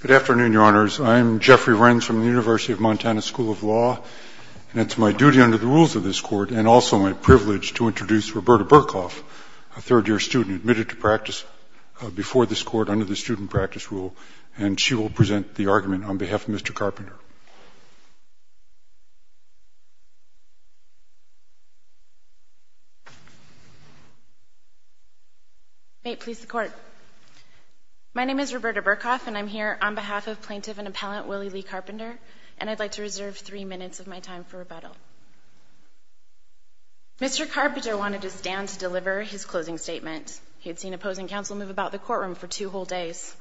Good afternoon, Your Honors. I'm Jeffrey Renz from the University of Montana School of Law, and it's my duty under the rules of this Court and also my privilege to introduce Roberta Burkhoff, a third-year student admitted to practice before this Court under the student practice rule, and she will present the argument on behalf of Mr. Carpenter. May it please the Court. My name is Roberta Burkhoff, and I'm here on behalf of Plaintiff and Appellant Willie Lee Carpenter, and I'd like to reserve three minutes of my time for rebuttal. Mr. Carpenter wanted to stand to deliver his closing statement. He had seen opposing counsel move about the courtroom for two whole days.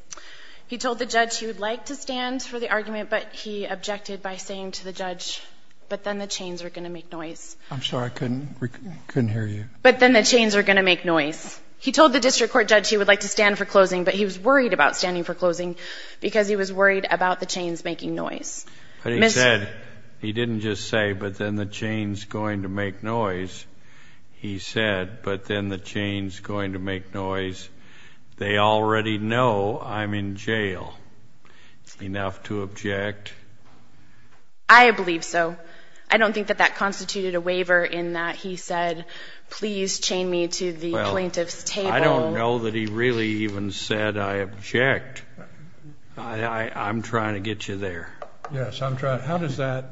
He told the judge he would like to stand for the argument, but he objected by saying to the judge, but then the chains are going to make noise. I'm sorry, I couldn't hear you. But then the chains are going to make noise. He told the district court judge he would like to stand for closing, but he was worried about standing for closing because he was worried about the chains making noise. But he said, he didn't just say, but then the chain's going to make noise. He said, but then the chain's going to make noise. They already know I'm in jail. Enough to object? I believe so. I don't think that that constituted a waiver in that he said, please chain me to the plaintiff's table. I don't know that he really even said I object. I'm trying to get you there. Yes, I'm trying. How does that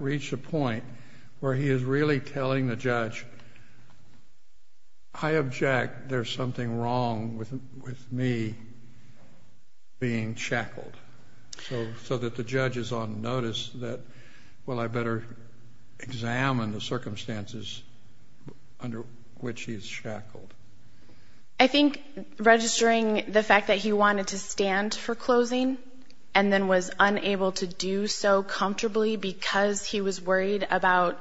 reach a point where he is really telling the judge, I object, there's something wrong with me being shackled, so that the judge is on notice that, well, I better examine the circumstances under which he is shackled? I think registering the fact that he wanted to stand for closing and then was unable to do so comfortably because he was worried about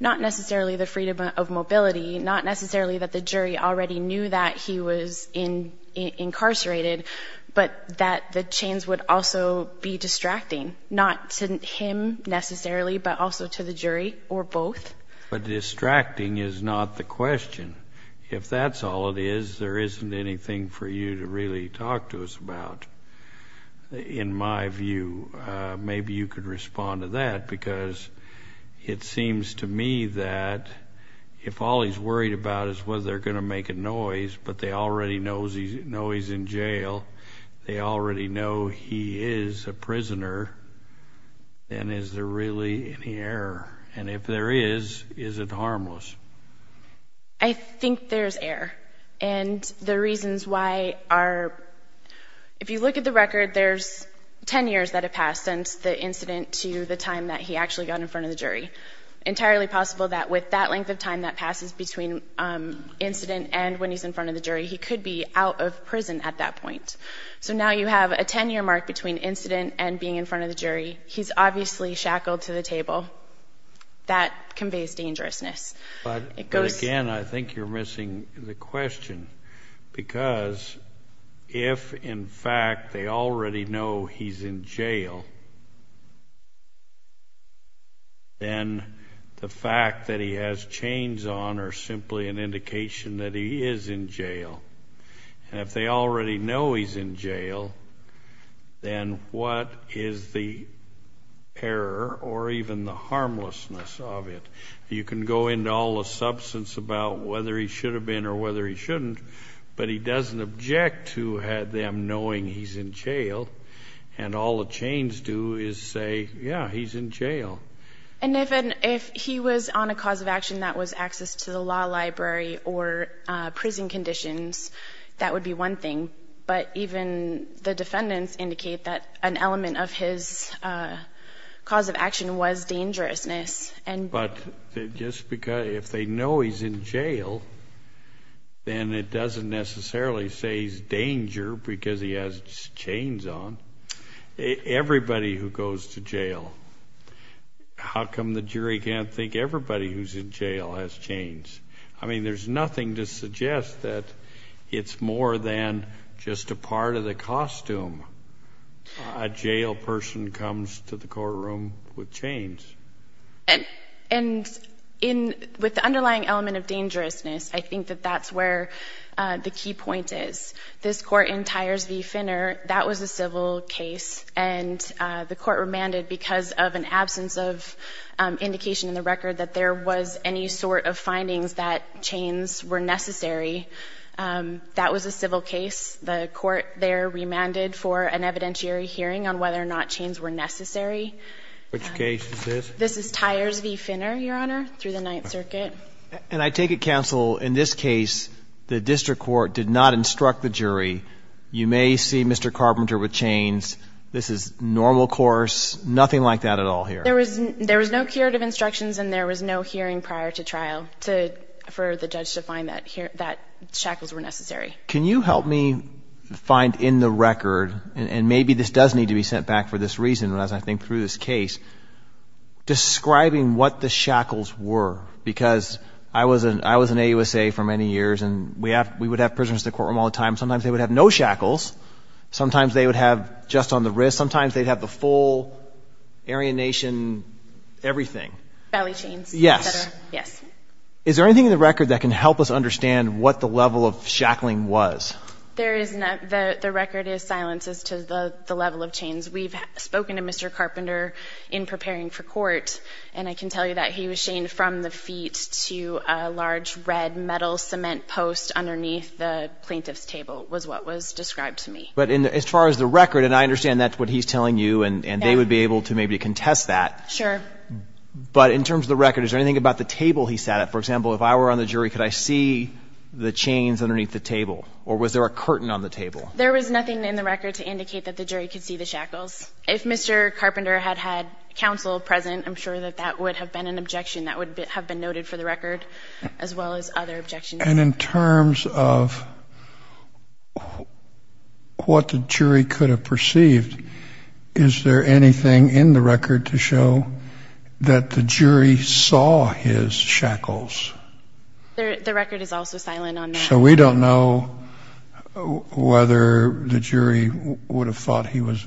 not necessarily the freedom of mobility, not necessarily that the jury already knew that he was incarcerated, but that the chains would also be distracting, not to him necessarily, but also to the jury or both. But distracting is not the question. If that's all it is, there isn't anything for you to really talk to us about, in my view. Maybe you could respond to that, because it seems to me that if all he's worried about is whether they're going to make a noise, but they already know he's in jail, they already know he is a prisoner, then is there really any error? And if there is, is it harmless? That conveys dangerousness. You can go into all the substance about whether he should have been or whether he shouldn't, but he doesn't object to them knowing he's in jail, and all the chains do is say, yeah, he's in jail. And if he was on a cause of action that was access to the law library or prison conditions, that would be one thing, but even the defendants indicate that an element of his cause of action was dangerousness. But if they know he's in jail, then it doesn't necessarily say he's danger because he has chains on. Everybody who goes to jail, how come the jury can't think everybody who's in jail has chains? I mean, there's nothing to suggest that it's more than just a part of the costume. A jail person comes to the courtroom with chains. And with the underlying element of dangerousness, I think that that's where the key point is. This court in Tyers v. Finner, that was a civil case, and the court remanded because of an absence of indication in the record that there was any sort of findings that chains were necessary. That was a civil case. The court there remanded for an evidentiary hearing on whether or not chains were necessary. Which case is this? This is Tyers v. Finner, Your Honor, through the Ninth Circuit. And I take it, counsel, in this case, the district court did not instruct the jury, you may see Mr. Carpenter with chains, this is normal course, nothing like that at all here? There was no curative instructions and there was no hearing prior to trial for the judge to find that shackles were necessary. Can you help me find in the record, and maybe this does need to be sent back for this reason as I think through this case, describing what the shackles were? Because I was in AUSA for many years and we would have prisoners in the courtroom all the time, sometimes they would have no shackles, sometimes they would have just on the wrist, sometimes they'd have the full, Aryan Nation, everything. Valley chains. Yes. Yes. Is there anything in the record that can help us understand what the level of shackling was? The record is silence as to the level of chains. We've spoken to Mr. Carpenter in preparing for court and I can tell you that he was shamed from the feet to a large red metal cement post underneath the plaintiff's table was what was described to me. But as far as the record, and I understand that's what he's telling you and they would be able to maybe contest that. Sure. But in terms of the record, is there anything about the table he sat at? For example, if I were on the jury, could I see the chains underneath the table or was there a curtain on the table? There was nothing in the record to indicate that the jury could see the shackles. If Mr. Carpenter had had counsel present, I'm sure that that would have been an objection that would have been noted for the record as well as other objections. And in terms of what the jury could have perceived, is there anything in the record to show that the jury saw his shackles? The record is also silent on that. So we don't know whether the jury would have thought he was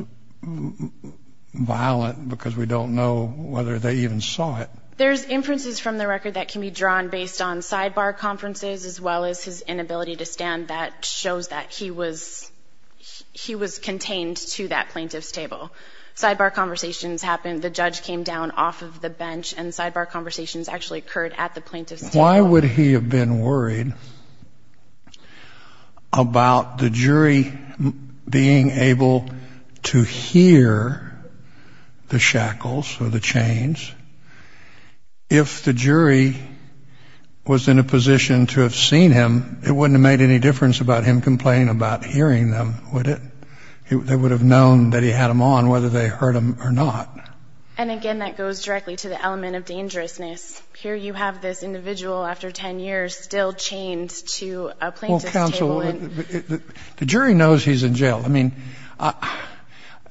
violent because we don't know whether they even saw it. There's inferences from the record that can be drawn based on sidebar conferences as well as his inability to stand that shows that he was contained to that plaintiff's table. Sidebar conversations happened, the judge came down off of the bench and sidebar conversations actually occurred at the plaintiff's table. Why would he have been worried about the jury being able to hear the shackles or the chains if the jury was in a position to have seen him? It wouldn't have made any difference about him complaining about hearing them, would it? They would have known that he had them on whether they heard them or not. And again, that goes directly to the element of dangerousness. Here you have this individual after 10 years still chained to a plaintiff's table. Well, counsel, the jury knows he's in jail. I mean,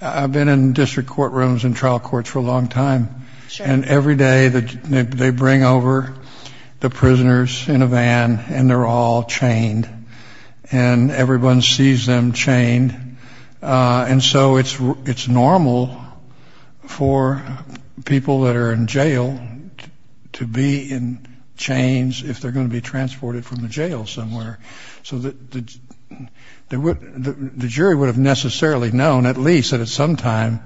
I've been in district courtrooms and trial courts for a long time. And every day they bring over the prisoners in a van and they're all chained. And everyone sees them chained. And so it's normal for people that are in jail to be in chains if they're going to be transported from the jail somewhere. So the jury would have necessarily known at least that at some time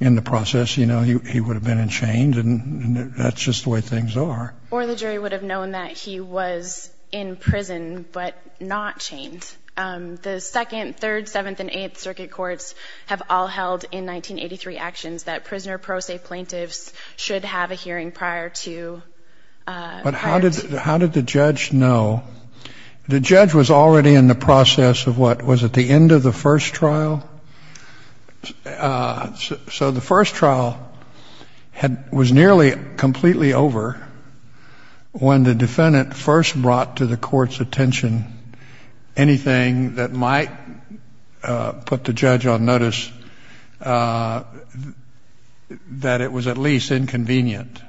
in the process, you know, he would have been in chains and that's just the way things are. Or the jury would have known that he was in prison but not chained. And the 2nd, 3rd, 7th and 8th Circuit Courts have all held in 1983 actions that prisoner pro se plaintiffs should have a hearing prior to. But how did the judge know? The judge was already in the process of what, was it the end of the first trial? So the first trial was nearly completely over when the defendant first brought to the court's attention anything that might put the judge on notice that it was at least inconvenient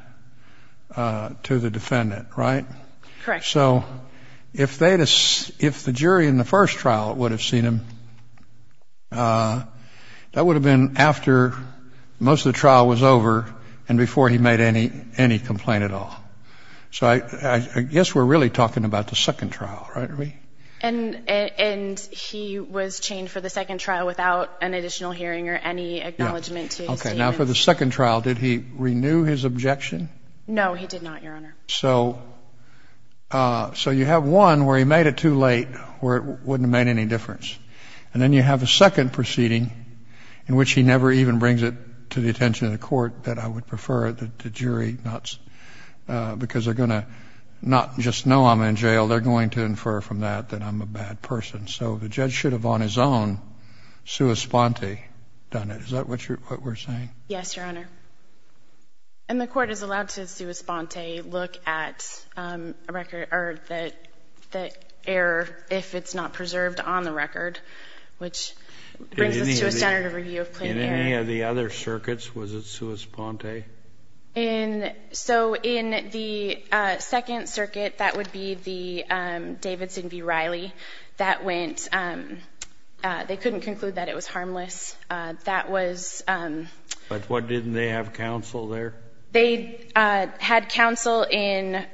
to the defendant, right? So if the jury in the first trial would have seen him, that would have been after most of the trial was over and before he made any complaint at all. So I guess we're really talking about the 2nd trial, right? And he was chained for the 2nd trial without an additional hearing or any acknowledgement to his team. Okay. Now for the 2nd trial, did he renew his objection? No, he did not, Your Honor. So you have one where he made it too late, where it wouldn't have made any difference. And then you have a 2nd proceeding in which he never even brings it to the attention of the court that I would prefer the jury not, because they're going to not just know I'm in jail, they're going to infer from that that I'm a bad person. So the judge should have on his own, sua sponte, done it. Is that what we're saying? Yes, Your Honor. And the court is allowed to sua sponte look at a record or the error if it's not preserved on the record, which brings us to a standard of review of plain care. In any of the other circuits, was it sua sponte? So in the 2nd circuit, that would be the Davidson v. Riley. That went, they couldn't conclude that it was harmless. That was... But didn't they have counsel there? They had counsel in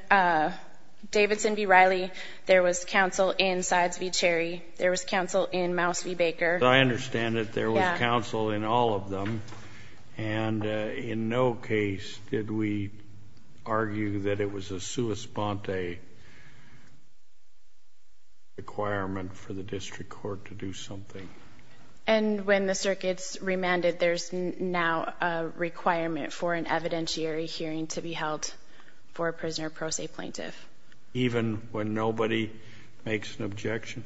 Davidson v. Riley. There was counsel in Sides v. Cherry. There was counsel in Mouse v. Baker. I understand that there was counsel in all of them. And in no case did we argue that it was a sua sponte requirement for the district court to do something. And when the circuit's remanded, there's now a requirement for an evidentiary hearing to be held for a prisoner pro se plaintiff. Even when nobody makes an objection?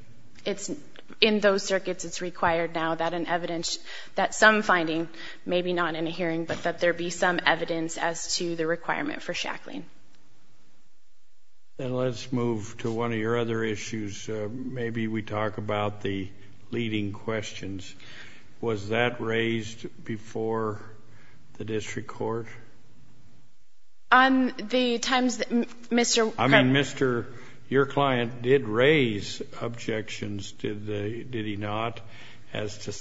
In those circuits, it's required now that some finding, maybe not in a hearing, but that there be some evidence as to the requirement for shackling. And let's move to one of your other issues. Maybe we talk about the leading questions. Was that raised before the district court? On the times that Mr. I mean, Mr., your client did raise objections, did he not, as to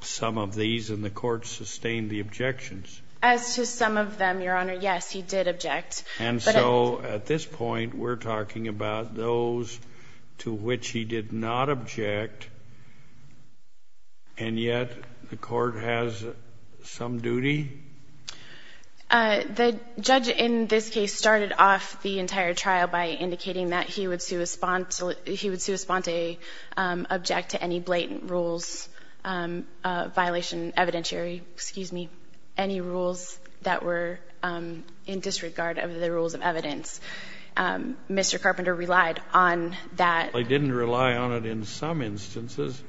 some of these, and the court sustained the objections? As to some of them, Your Honor, yes, he did object. And so at this point, we're talking about those to which he did not object, and yet the court has some duty? The judge in this case started off the entire trial by indicating that he would sua sponte object to any blatant rules, violation evidentiary, excuse me, any rules that were in disregard of the rules of evidence. Mr. Carpenter relied on that. He didn't rely on it in some instances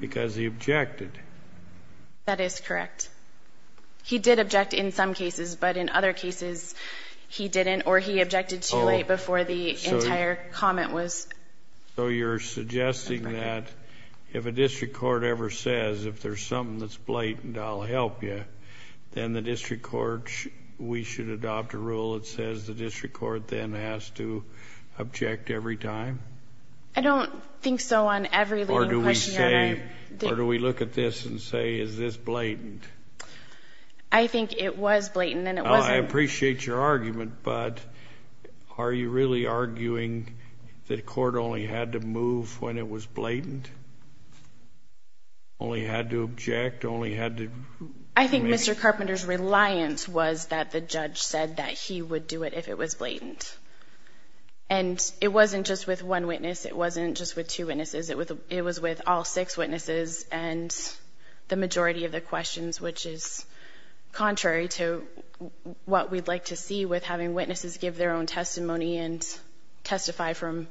because he objected. That is correct. He did object in some cases, but in other cases he didn't, or he objected too late before the entire comment was. So you're suggesting that if a district court ever says, if there's something that's blatant, I'll help you, then the district court, we should adopt a rule that says the district court then has to object every time? I don't think so on every leading question, Your Honor. Or do we look at this and say, is this blatant? I think it was blatant, and it wasn't. I appreciate your argument, but are you really arguing that a court only had to move when it was blatant, only had to object, only had to? I think Mr. Carpenter's reliance was that the judge said that he would do it if it was blatant. And it wasn't just with one witness. It wasn't just with two witnesses. It was with all six witnesses and the majority of the questions, which is contrary to what we'd like to see with having witnesses give their own testimony and testify from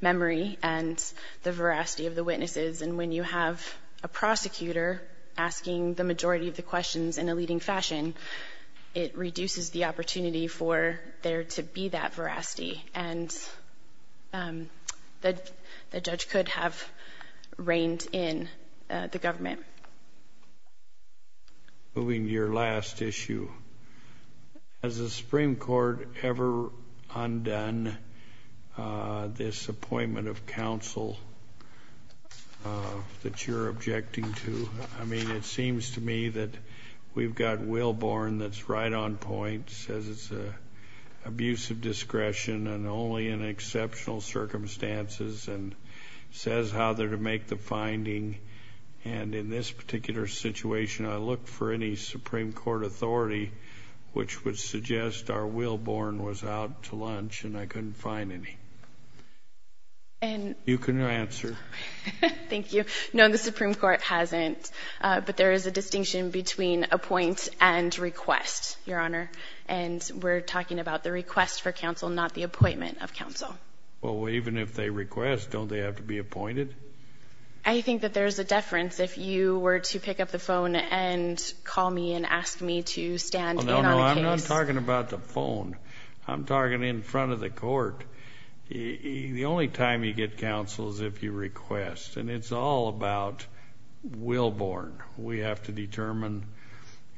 memory and the veracity of the witnesses. And when you have a prosecutor asking the majority of the questions in a leading fashion, it reduces the opportunity for there to be that veracity. And the judge could have reined in the government. Moving to your last issue. Has the Supreme Court ever undone this appointment of counsel that you're objecting to? I mean, it seems to me that we've got Wilborn that's right on point, says it's an abuse of discretion and only in exceptional circumstances, and says how they're to make the finding. And in this particular situation, I look for any Supreme Court authority which would suggest our Wilborn was out to lunch and I couldn't find any. You can answer. Thank you. No, the Supreme Court hasn't. But there is a distinction between appoint and request, Your Honor. And we're talking about the request for counsel, not the appointment of counsel. Well, even if they request, don't they have to be appointed? I think that there's a deference if you were to pick up the phone and call me and ask me to stand in on a case. No, no, I'm not talking about the phone. I'm talking in front of the court. The only time you get counsel is if you request. And it's all about Wilborn. We have to determine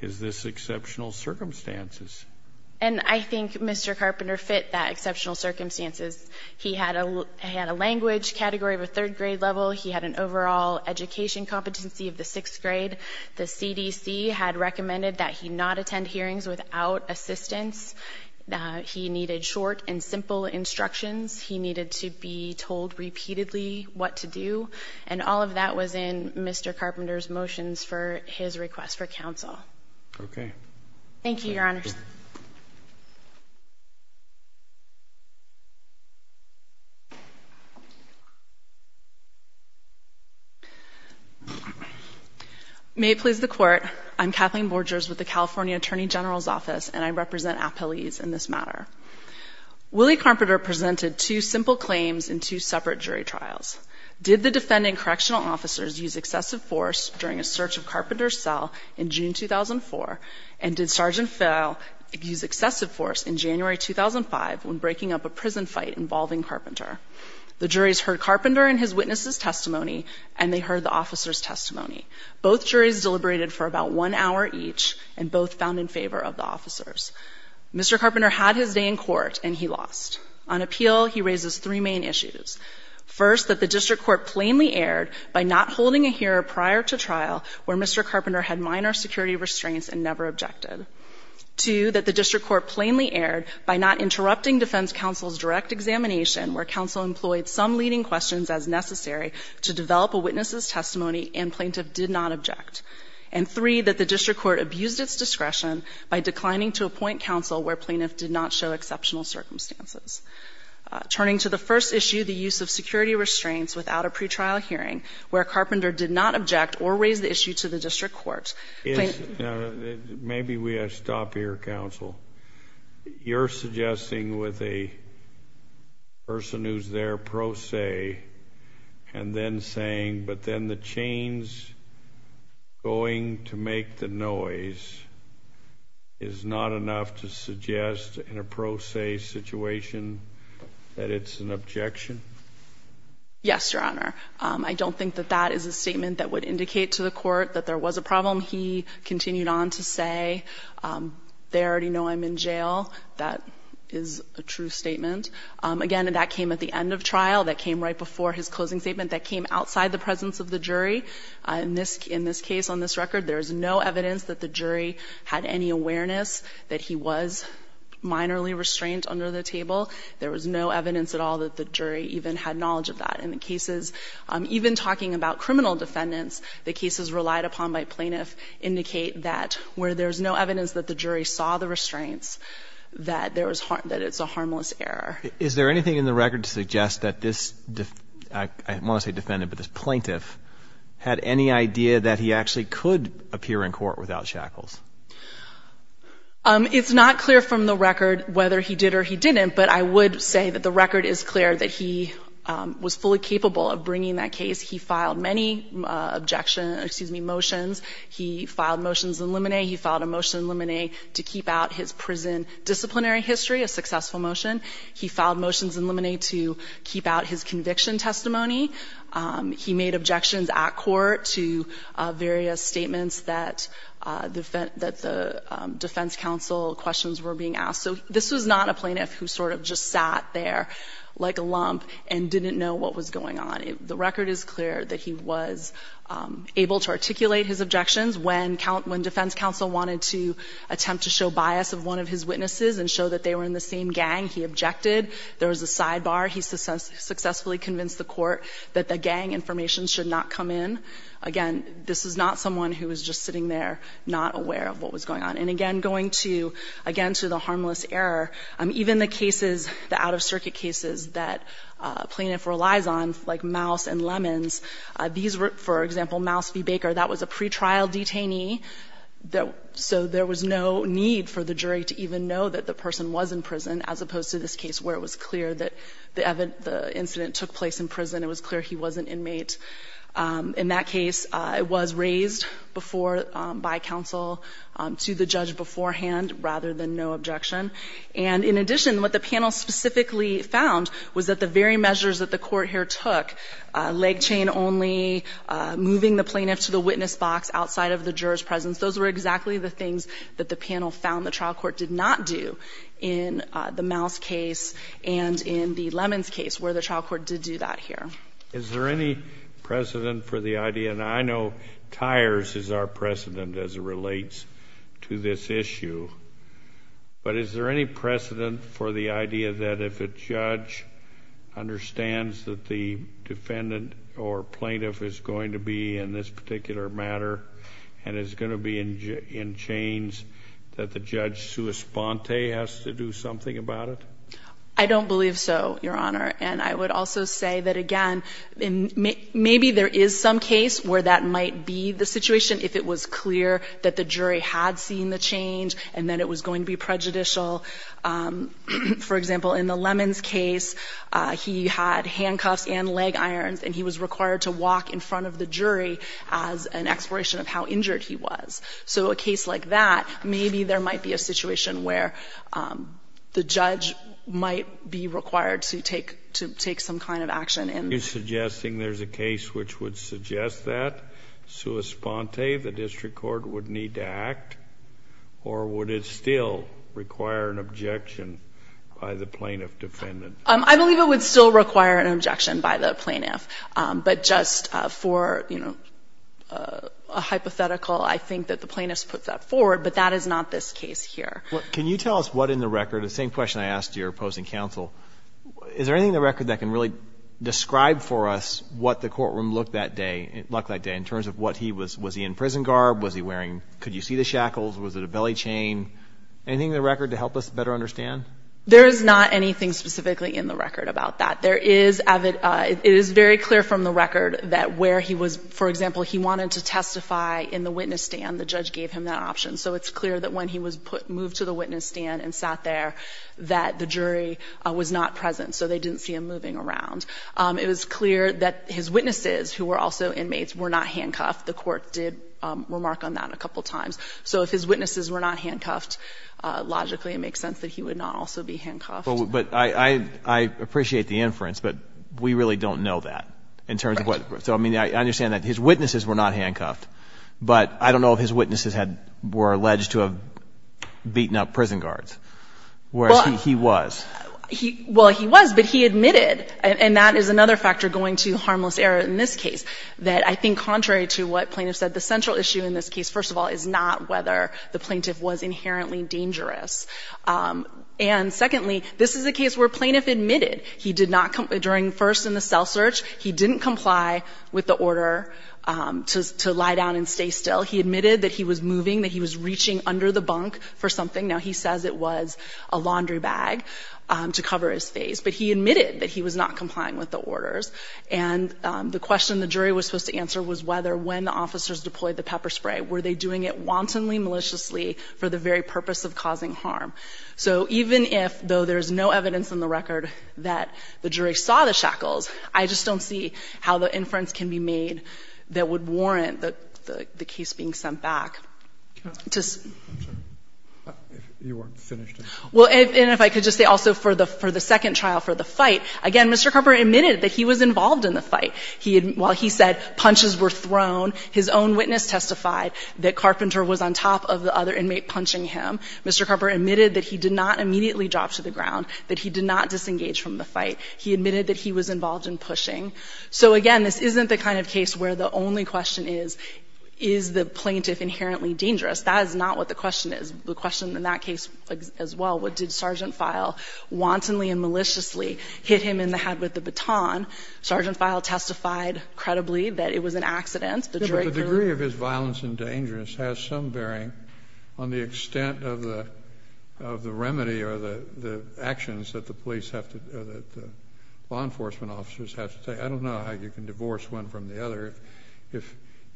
is this exceptional circumstances. And I think Mr. Carpenter fit that exceptional circumstances. He had a language category of a third grade level. He had an overall education competency of the sixth grade. The CDC had recommended that he not attend hearings without assistance. He needed short and simple instructions. He needed to be told repeatedly what to do. And all of that was in Mr. Carpenter's motions for his request for counsel. Okay. Thank you, Your Honors. May it please the Court, I'm Kathleen Borgers with the California Attorney General's Office, and I represent appellees in this matter. Willie Carpenter presented two simple claims in two separate jury trials. Did the defending correctional officers use excessive force during a search of Carpenter's cell in June 2004, and did Sergeant Phil use excessive force in January 2005 when breaking up a prison fight involving Carpenter? The juries heard Carpenter and his witnesses' testimony, and they heard the officers' testimony. Both juries deliberated for about one hour each, and both found in favor of the officers. Mr. Carpenter had his day in court, and he lost. On appeal, he raises three main issues. First, that the district court plainly erred by not holding a hearing prior to trial where Mr. Carpenter had minor security restraints and never objected. Two, that the district court plainly erred by not interrupting defense counsel's direct examination where counsel employed some leading questions as necessary to develop a witness' testimony and plaintiff did not object. And three, that the district court abused its discretion by declining to appoint counsel where plaintiff did not show exceptional circumstances. Turning to the first issue, the use of security restraints without a pretrial hearing where Carpenter did not object or raise the issue to the district court. Maybe we ought to stop here, counsel. You're suggesting with a person who's there pro se and then saying, but then the chain's going to make the noise, is not enough to suggest in a pro se situation that it's an objection? Yes, Your Honor. I don't think that that is a statement that would indicate to the court that there was a problem. He continued on to say, they already know I'm in jail. That is a true statement. Again, that came at the end of trial. That came right before his closing statement. That came outside the presence of the jury. In this case, on this record, there is no evidence that the jury had any awareness that he was minorly restrained under the table. There was no evidence at all that the jury even had knowledge of that. In the cases, even talking about criminal defendants, the cases relied upon by plaintiff indicate that where there's no evidence that the jury saw the restraints, that there was harm, that it's a harmless error. Is there anything in the record to suggest that this, I won't say defendant, but this plaintiff had any idea that he actually could appear in court without shackles? It's not clear from the record whether he did or he didn't, but I would say that the record is clear that he was fully capable of bringing that case. He filed many objections, excuse me, motions. He filed motions in limine. He filed a motion in limine to keep out his prison disciplinary history, a successful motion. He filed motions in limine to keep out his conviction testimony. He made objections at court to various statements that the defense counsel questions were being asked. So this was not a plaintiff who sort of just sat there like a lump and didn't know what was going on. The record is clear that he was able to articulate his objections. When defense counsel wanted to attempt to show bias of one of his witnesses and show that they were in the same gang, he objected. There was a sidebar. He successfully convinced the court that the gang information should not come in. Again, this is not someone who was just sitting there not aware of what was going on, and again, going to, again, to the harmless error. Even the cases, the out-of-circuit cases that plaintiff relies on, like Mouse and Lemons, these were, for example, Mouse v. Baker, that was a pretrial detainee, so there was no need for the jury to even know that the person was in prison, as opposed to this case where it was clear that the incident took place in prison. It was clear he was an inmate. In that case, it was raised before by counsel to the judge beforehand, rather than no objection. And in addition, what the panel specifically found was that the very measures that the court here took, leg chain only, moving the plaintiff to the witness box outside of the juror's presence, those were exactly the things that the panel found the trial court did not do in the Mouse case and in the Lemons case, where the trial court did do that here. Thank you. Is there any precedent for the idea, and I know Tyers is our precedent as it relates to this issue, but is there any precedent for the idea that if a judge understands that the defendant or plaintiff is going to be in this particular matter and is going to be in chains, that the judge sua sponte has to do something about it? I don't believe so, Your Honor. And I would also say that, again, maybe there is some case where that might be the situation if it was clear that the jury had seen the change and that it was going to be prejudicial. For example, in the Lemons case, he had handcuffs and leg irons, and he was required to walk in front of the jury as an exploration of how injured he was. So a case like that, maybe there might be a situation where the judge might be required to take some kind of action. Are you suggesting there's a case which would suggest that sua sponte, the district court, would need to act, or would it still require an objection by the plaintiff defendant? I believe it would still require an objection by the plaintiff. But just for, you know, a hypothetical, I think that the plaintiff puts that forward. But that is not this case here. Can you tell us what in the record, the same question I asked your opposing counsel, is there anything in the record that can really describe for us what the courtroom looked that day, in terms of what he was, was he in prison garb, was he wearing, could you see the shackles, was it a belly chain? Anything in the record to help us better understand? There is not anything specifically in the record about that. There is, it is very clear from the record that where he was, for example, he wanted to testify in the witness stand. The judge gave him that option. So it's clear that when he was moved to the witness stand and sat there, that the jury was not present. So they didn't see him moving around. It was clear that his witnesses, who were also inmates, were not handcuffed. The court did remark on that a couple times. So if his witnesses were not handcuffed, logically it makes sense that he would not also be handcuffed. But I appreciate the inference, but we really don't know that, in terms of what so, I mean, I understand that his witnesses were not handcuffed, but I don't know if his witnesses were alleged to have beaten up prison guards, whereas he was. Well, he was, but he admitted, and that is another factor going to harmless error in this case, that I think contrary to what plaintiff said, the central issue in this case, first of all, is not whether the plaintiff was inherently dangerous. And secondly, this is a case where plaintiff admitted he did not, during first in the cell search, he didn't comply with the order to lie down and stay still. He admitted that he was moving, that he was reaching under the bunk for something. Now, he says it was a laundry bag to cover his face. But he admitted that he was not complying with the orders. And the question the jury was supposed to answer was whether, when the officers deployed the pepper spray, were they doing it wantonly, maliciously, for the very purpose of causing harm. So even if, though there's no evidence in the record that the jury saw the shackles, I just don't see how the inference can be made that would warrant the case being sent back. To say. I'm sorry. You weren't finished. Well, and if I could just say also for the second trial, for the fight, again, Mr. Carpenter admitted that he was involved in the fight. He had, while he said punches were thrown, his own witness testified that Carpenter was on top of the other inmate punching him. Mr. Carpenter admitted that he did not immediately drop to the ground, that he did not disengage from the fight. He admitted that he was involved in pushing. So, again, this isn't the kind of case where the only question is, is the plaintiff inherently dangerous? That is not what the question is. The question in that case as well, what did Sergeant File wantonly and maliciously hit him in the head with the baton? Sergeant File testified credibly that it was an accident. The degree of his violence and dangerous has some bearing on the extent of the remedy or the actions that the police have to, that law enforcement officers have to take. I don't know how you can divorce one from the other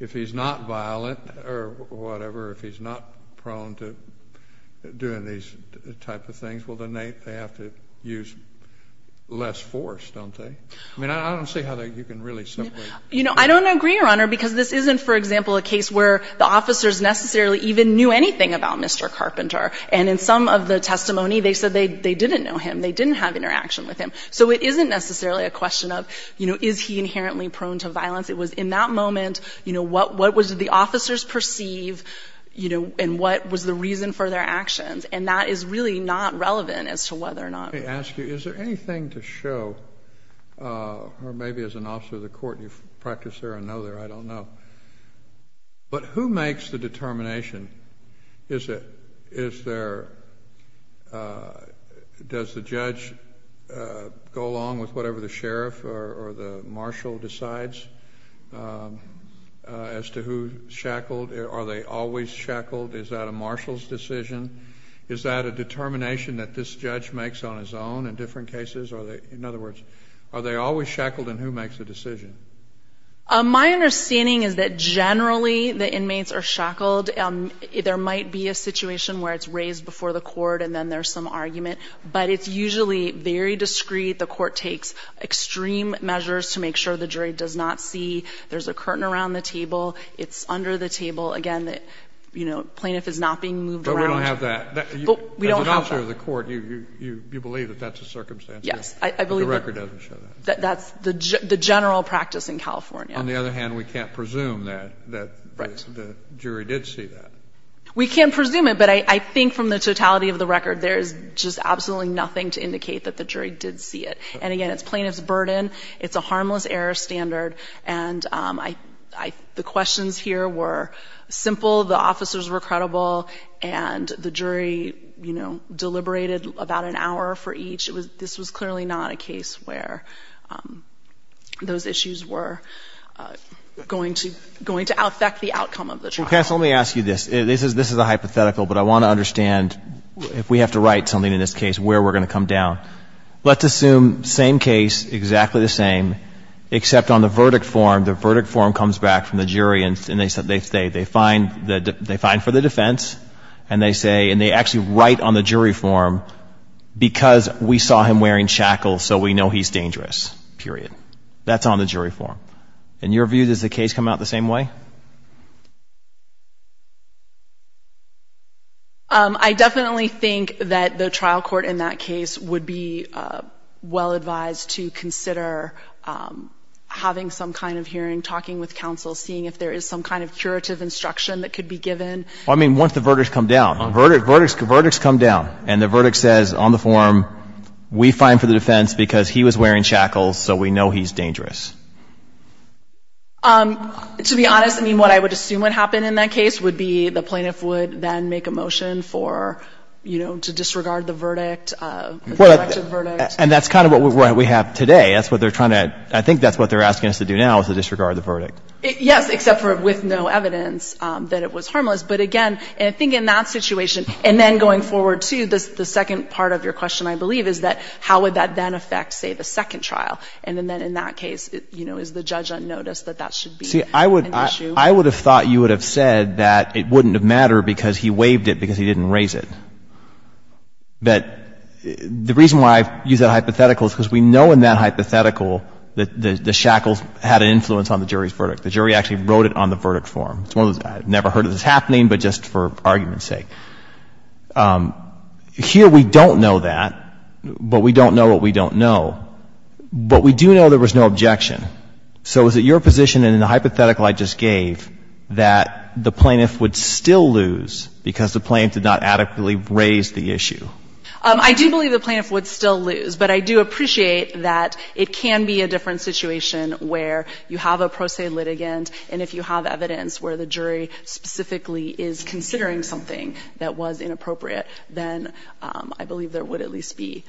if he's not violent or whatever, if he's not prone to doing these type of things. Well, then they have to use less force, don't they? I mean, I don't see how you can really simply. You know, I don't agree, Your Honor, because this isn't, for example, a case where the officers necessarily even knew anything about Mr. Carpenter. And in some of the testimony, they said they didn't know him. They didn't have interaction with him. So it isn't necessarily a question of, you know, is he inherently prone to violence. It was in that moment, you know, what did the officers perceive, you know, and what was the reason for their actions. And that is really not relevant as to whether or not. Let me ask you, is there anything to show, or maybe as an officer of the court, you've practiced there or know there. I don't know. But who makes the determination? Is there, does the judge go along with whatever the sheriff or the marshal decides as to who shackled? Are they always shackled? Is that a marshal's decision? Is that a determination that this judge makes on his own in different cases? In other words, are they always shackled, and who makes the decision? My understanding is that generally the inmates are shackled. There might be a situation where it's raised before the court, and then there's some argument. But it's usually very discreet. The court takes extreme measures to make sure the jury does not see there's a curtain around the table. It's under the table. Again, the, you know, plaintiff is not being moved around. But we don't have that. We don't have that. As an officer of the court, you believe that that's a circumstance? Yes. I believe that. But the record doesn't show that. That's the general practice in California. On the other hand, we can't presume that the jury did see that. Right. We can't presume it, but I think from the totality of the record, there's just absolutely nothing to indicate that the jury did see it. And again, it's plaintiff's burden. It's a harmless error standard. And the questions here were simple. The officers were credible. And the jury, you know, deliberated about an hour for each. This was clearly not a case where those issues were going to affect the outcome of the trial. Well, Cass, let me ask you this. This is a hypothetical, but I want to understand, if we have to write something in this case, where we're going to come down. Let's assume same case, exactly the same, except on the verdict form. The verdict form comes back from the jury, and they find for the defense. And they say, and they actually write on the jury form, because we saw him wearing shackles, so we know he's dangerous, period. That's on the jury form. In your view, does the case come out the same way? I definitely think that the trial court in that case would be well advised to consider having some kind of hearing, talking with counsel, seeing if there is some kind of curative instruction that could be given. I mean, once the verdicts come down. Verdicts come down, and the verdict says on the form, we find for the defense, because he was wearing shackles, so we know he's dangerous. To be honest, I mean, what I would assume would happen in that case would be the plaintiff would then make a motion for, you know, to disregard the verdict. Well, and that's kind of what we have today. That's what they're trying to, I think that's what they're asking us to do now, is to disregard the verdict. Yes, except for with no evidence that it was harmless. But again, I think in that situation, and then going forward to the second part of your question, I believe, is that how would that then affect, say, the second trial. And then in that case, you know, is the judge unnoticed that that should be an issue? See, I would have thought you would have said that it wouldn't have mattered because he waived it because he didn't raise it. But the reason why I use that hypothetical is because we know in that hypothetical that the shackles had an influence on the jury's verdict. The jury actually wrote it on the verdict form. It's one of those, I've never heard of this happening, but just for argument's sake. Here we don't know that, but we don't know what we don't know. But we do know there was no objection. So is it your position in the hypothetical I just gave that the plaintiff would still lose because the plaintiff did not adequately raise the issue? I do believe the plaintiff would still lose. But I do appreciate that it can be a different situation where you have a pro se litigant, and if you have evidence where the jury specifically is considering something that was inappropriate, then I believe there would at least be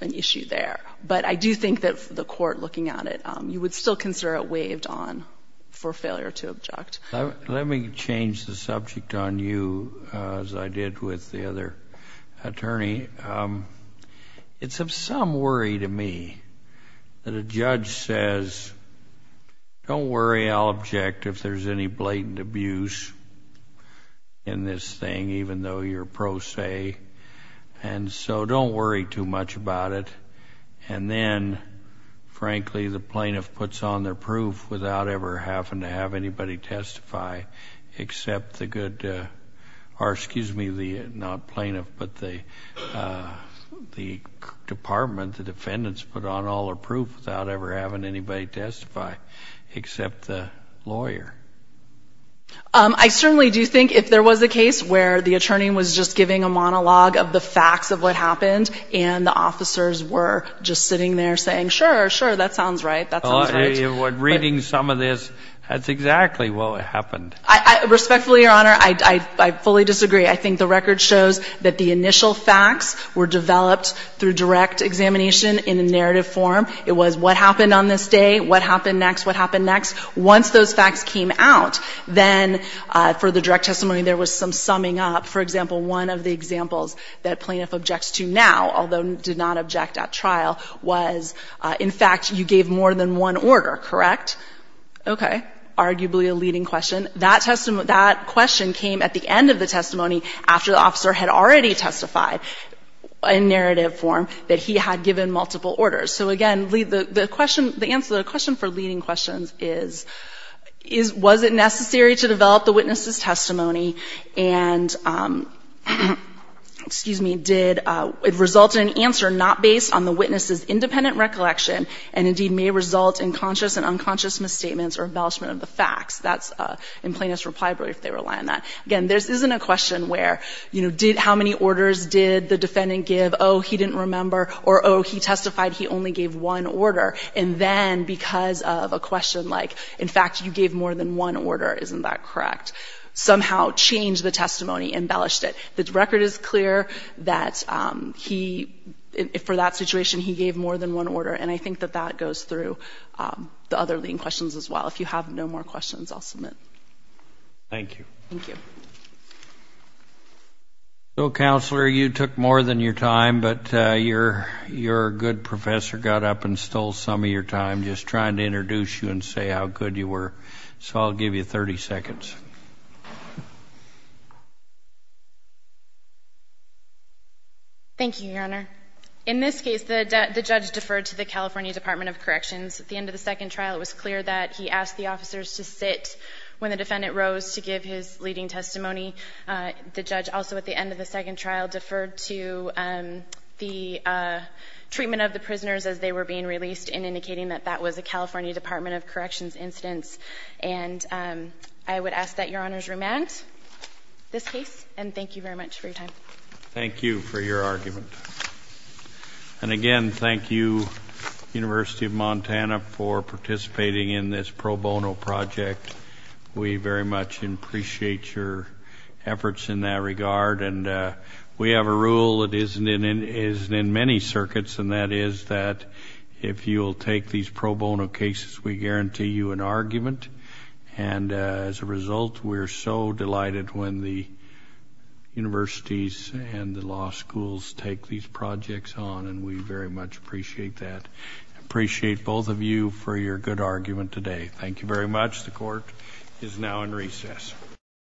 an issue there. But I do think that the court looking at it, you would still consider it waived on for failure to object. Let me change the subject on you, as I did with the other attorney. It's of some worry to me that a judge says, don't worry, I'll object if there's any blatant abuse in this thing, even though you're pro se. And so don't worry too much about it. And then, frankly, the plaintiff puts on their proof without ever having to have anybody testify, except the good, or excuse me, the not plaintiff, but the department, the defendants put on all their proof without ever having anybody testify, except the lawyer. I certainly do think if there was a case where the attorney was just giving a monologue of the facts of what happened and the officers were just sitting there saying, sure, sure, that sounds right, that sounds right. But reading some of this, that's exactly what happened. Respectfully, Your Honor, I fully disagree. I think the record shows that the initial facts were developed through direct examination in a narrative form. It was what happened on this day, what happened next, what happened next. Once those facts came out, then for the direct testimony, there was some summing up. For example, one of the examples that plaintiff objects to now, although did not object at trial, was, in fact, you gave more than one order, correct? Okay. Arguably a leading question. That question came at the end of the testimony, after the officer had already testified in narrative form, that he had given multiple orders. So, again, the answer to the question for leading questions is, was it necessary to develop the witness's testimony and, excuse me, did it result in an answer not based on the witness's independent recollection and, indeed, may result in conscious and unconscious misstatements or embellishment of the facts. That's in plaintiff's reply brief, they rely on that. Again, this isn't a question where, you know, how many orders did the defendant give? Oh, he didn't remember. Or, oh, he testified he only gave one order. And then, because of a question like, in fact, you gave more than one order, isn't that correct? Somehow change the testimony, embellished it. The record is clear that he, for that situation, he gave more than one order, and I think that that goes through the other leading questions as well. If you have no more questions, I'll submit. Thank you. Thank you. So, Counselor, you took more than your time, but your good professor got up and stole some of your time just trying to introduce you and say how good you were. So I'll give you 30 seconds. Thank you, Your Honor. In this case, the judge deferred to the California Department of Corrections. At the end of the second trial, it was clear that he asked the officers to sit when the defendant rose to give his leading testimony. The judge also, at the end of the second trial, deferred to the treatment of the prisoners as they were being released in indicating that that was a California Department of Corrections instance. And I would ask that Your Honor's remand this case, and thank you very much for your time. Thank you for your argument. And, again, thank you, University of Montana, for participating in this pro bono project. We very much appreciate your efforts in that regard. And we have a rule that isn't in many circuits, and that is that if you will take these pro bono cases, we guarantee you an argument. And as a result, we're so delighted when the universities and the law schools take these projects on, and we very much appreciate that. I appreciate both of you for your good argument today. Thank you very much. The court is now in recess.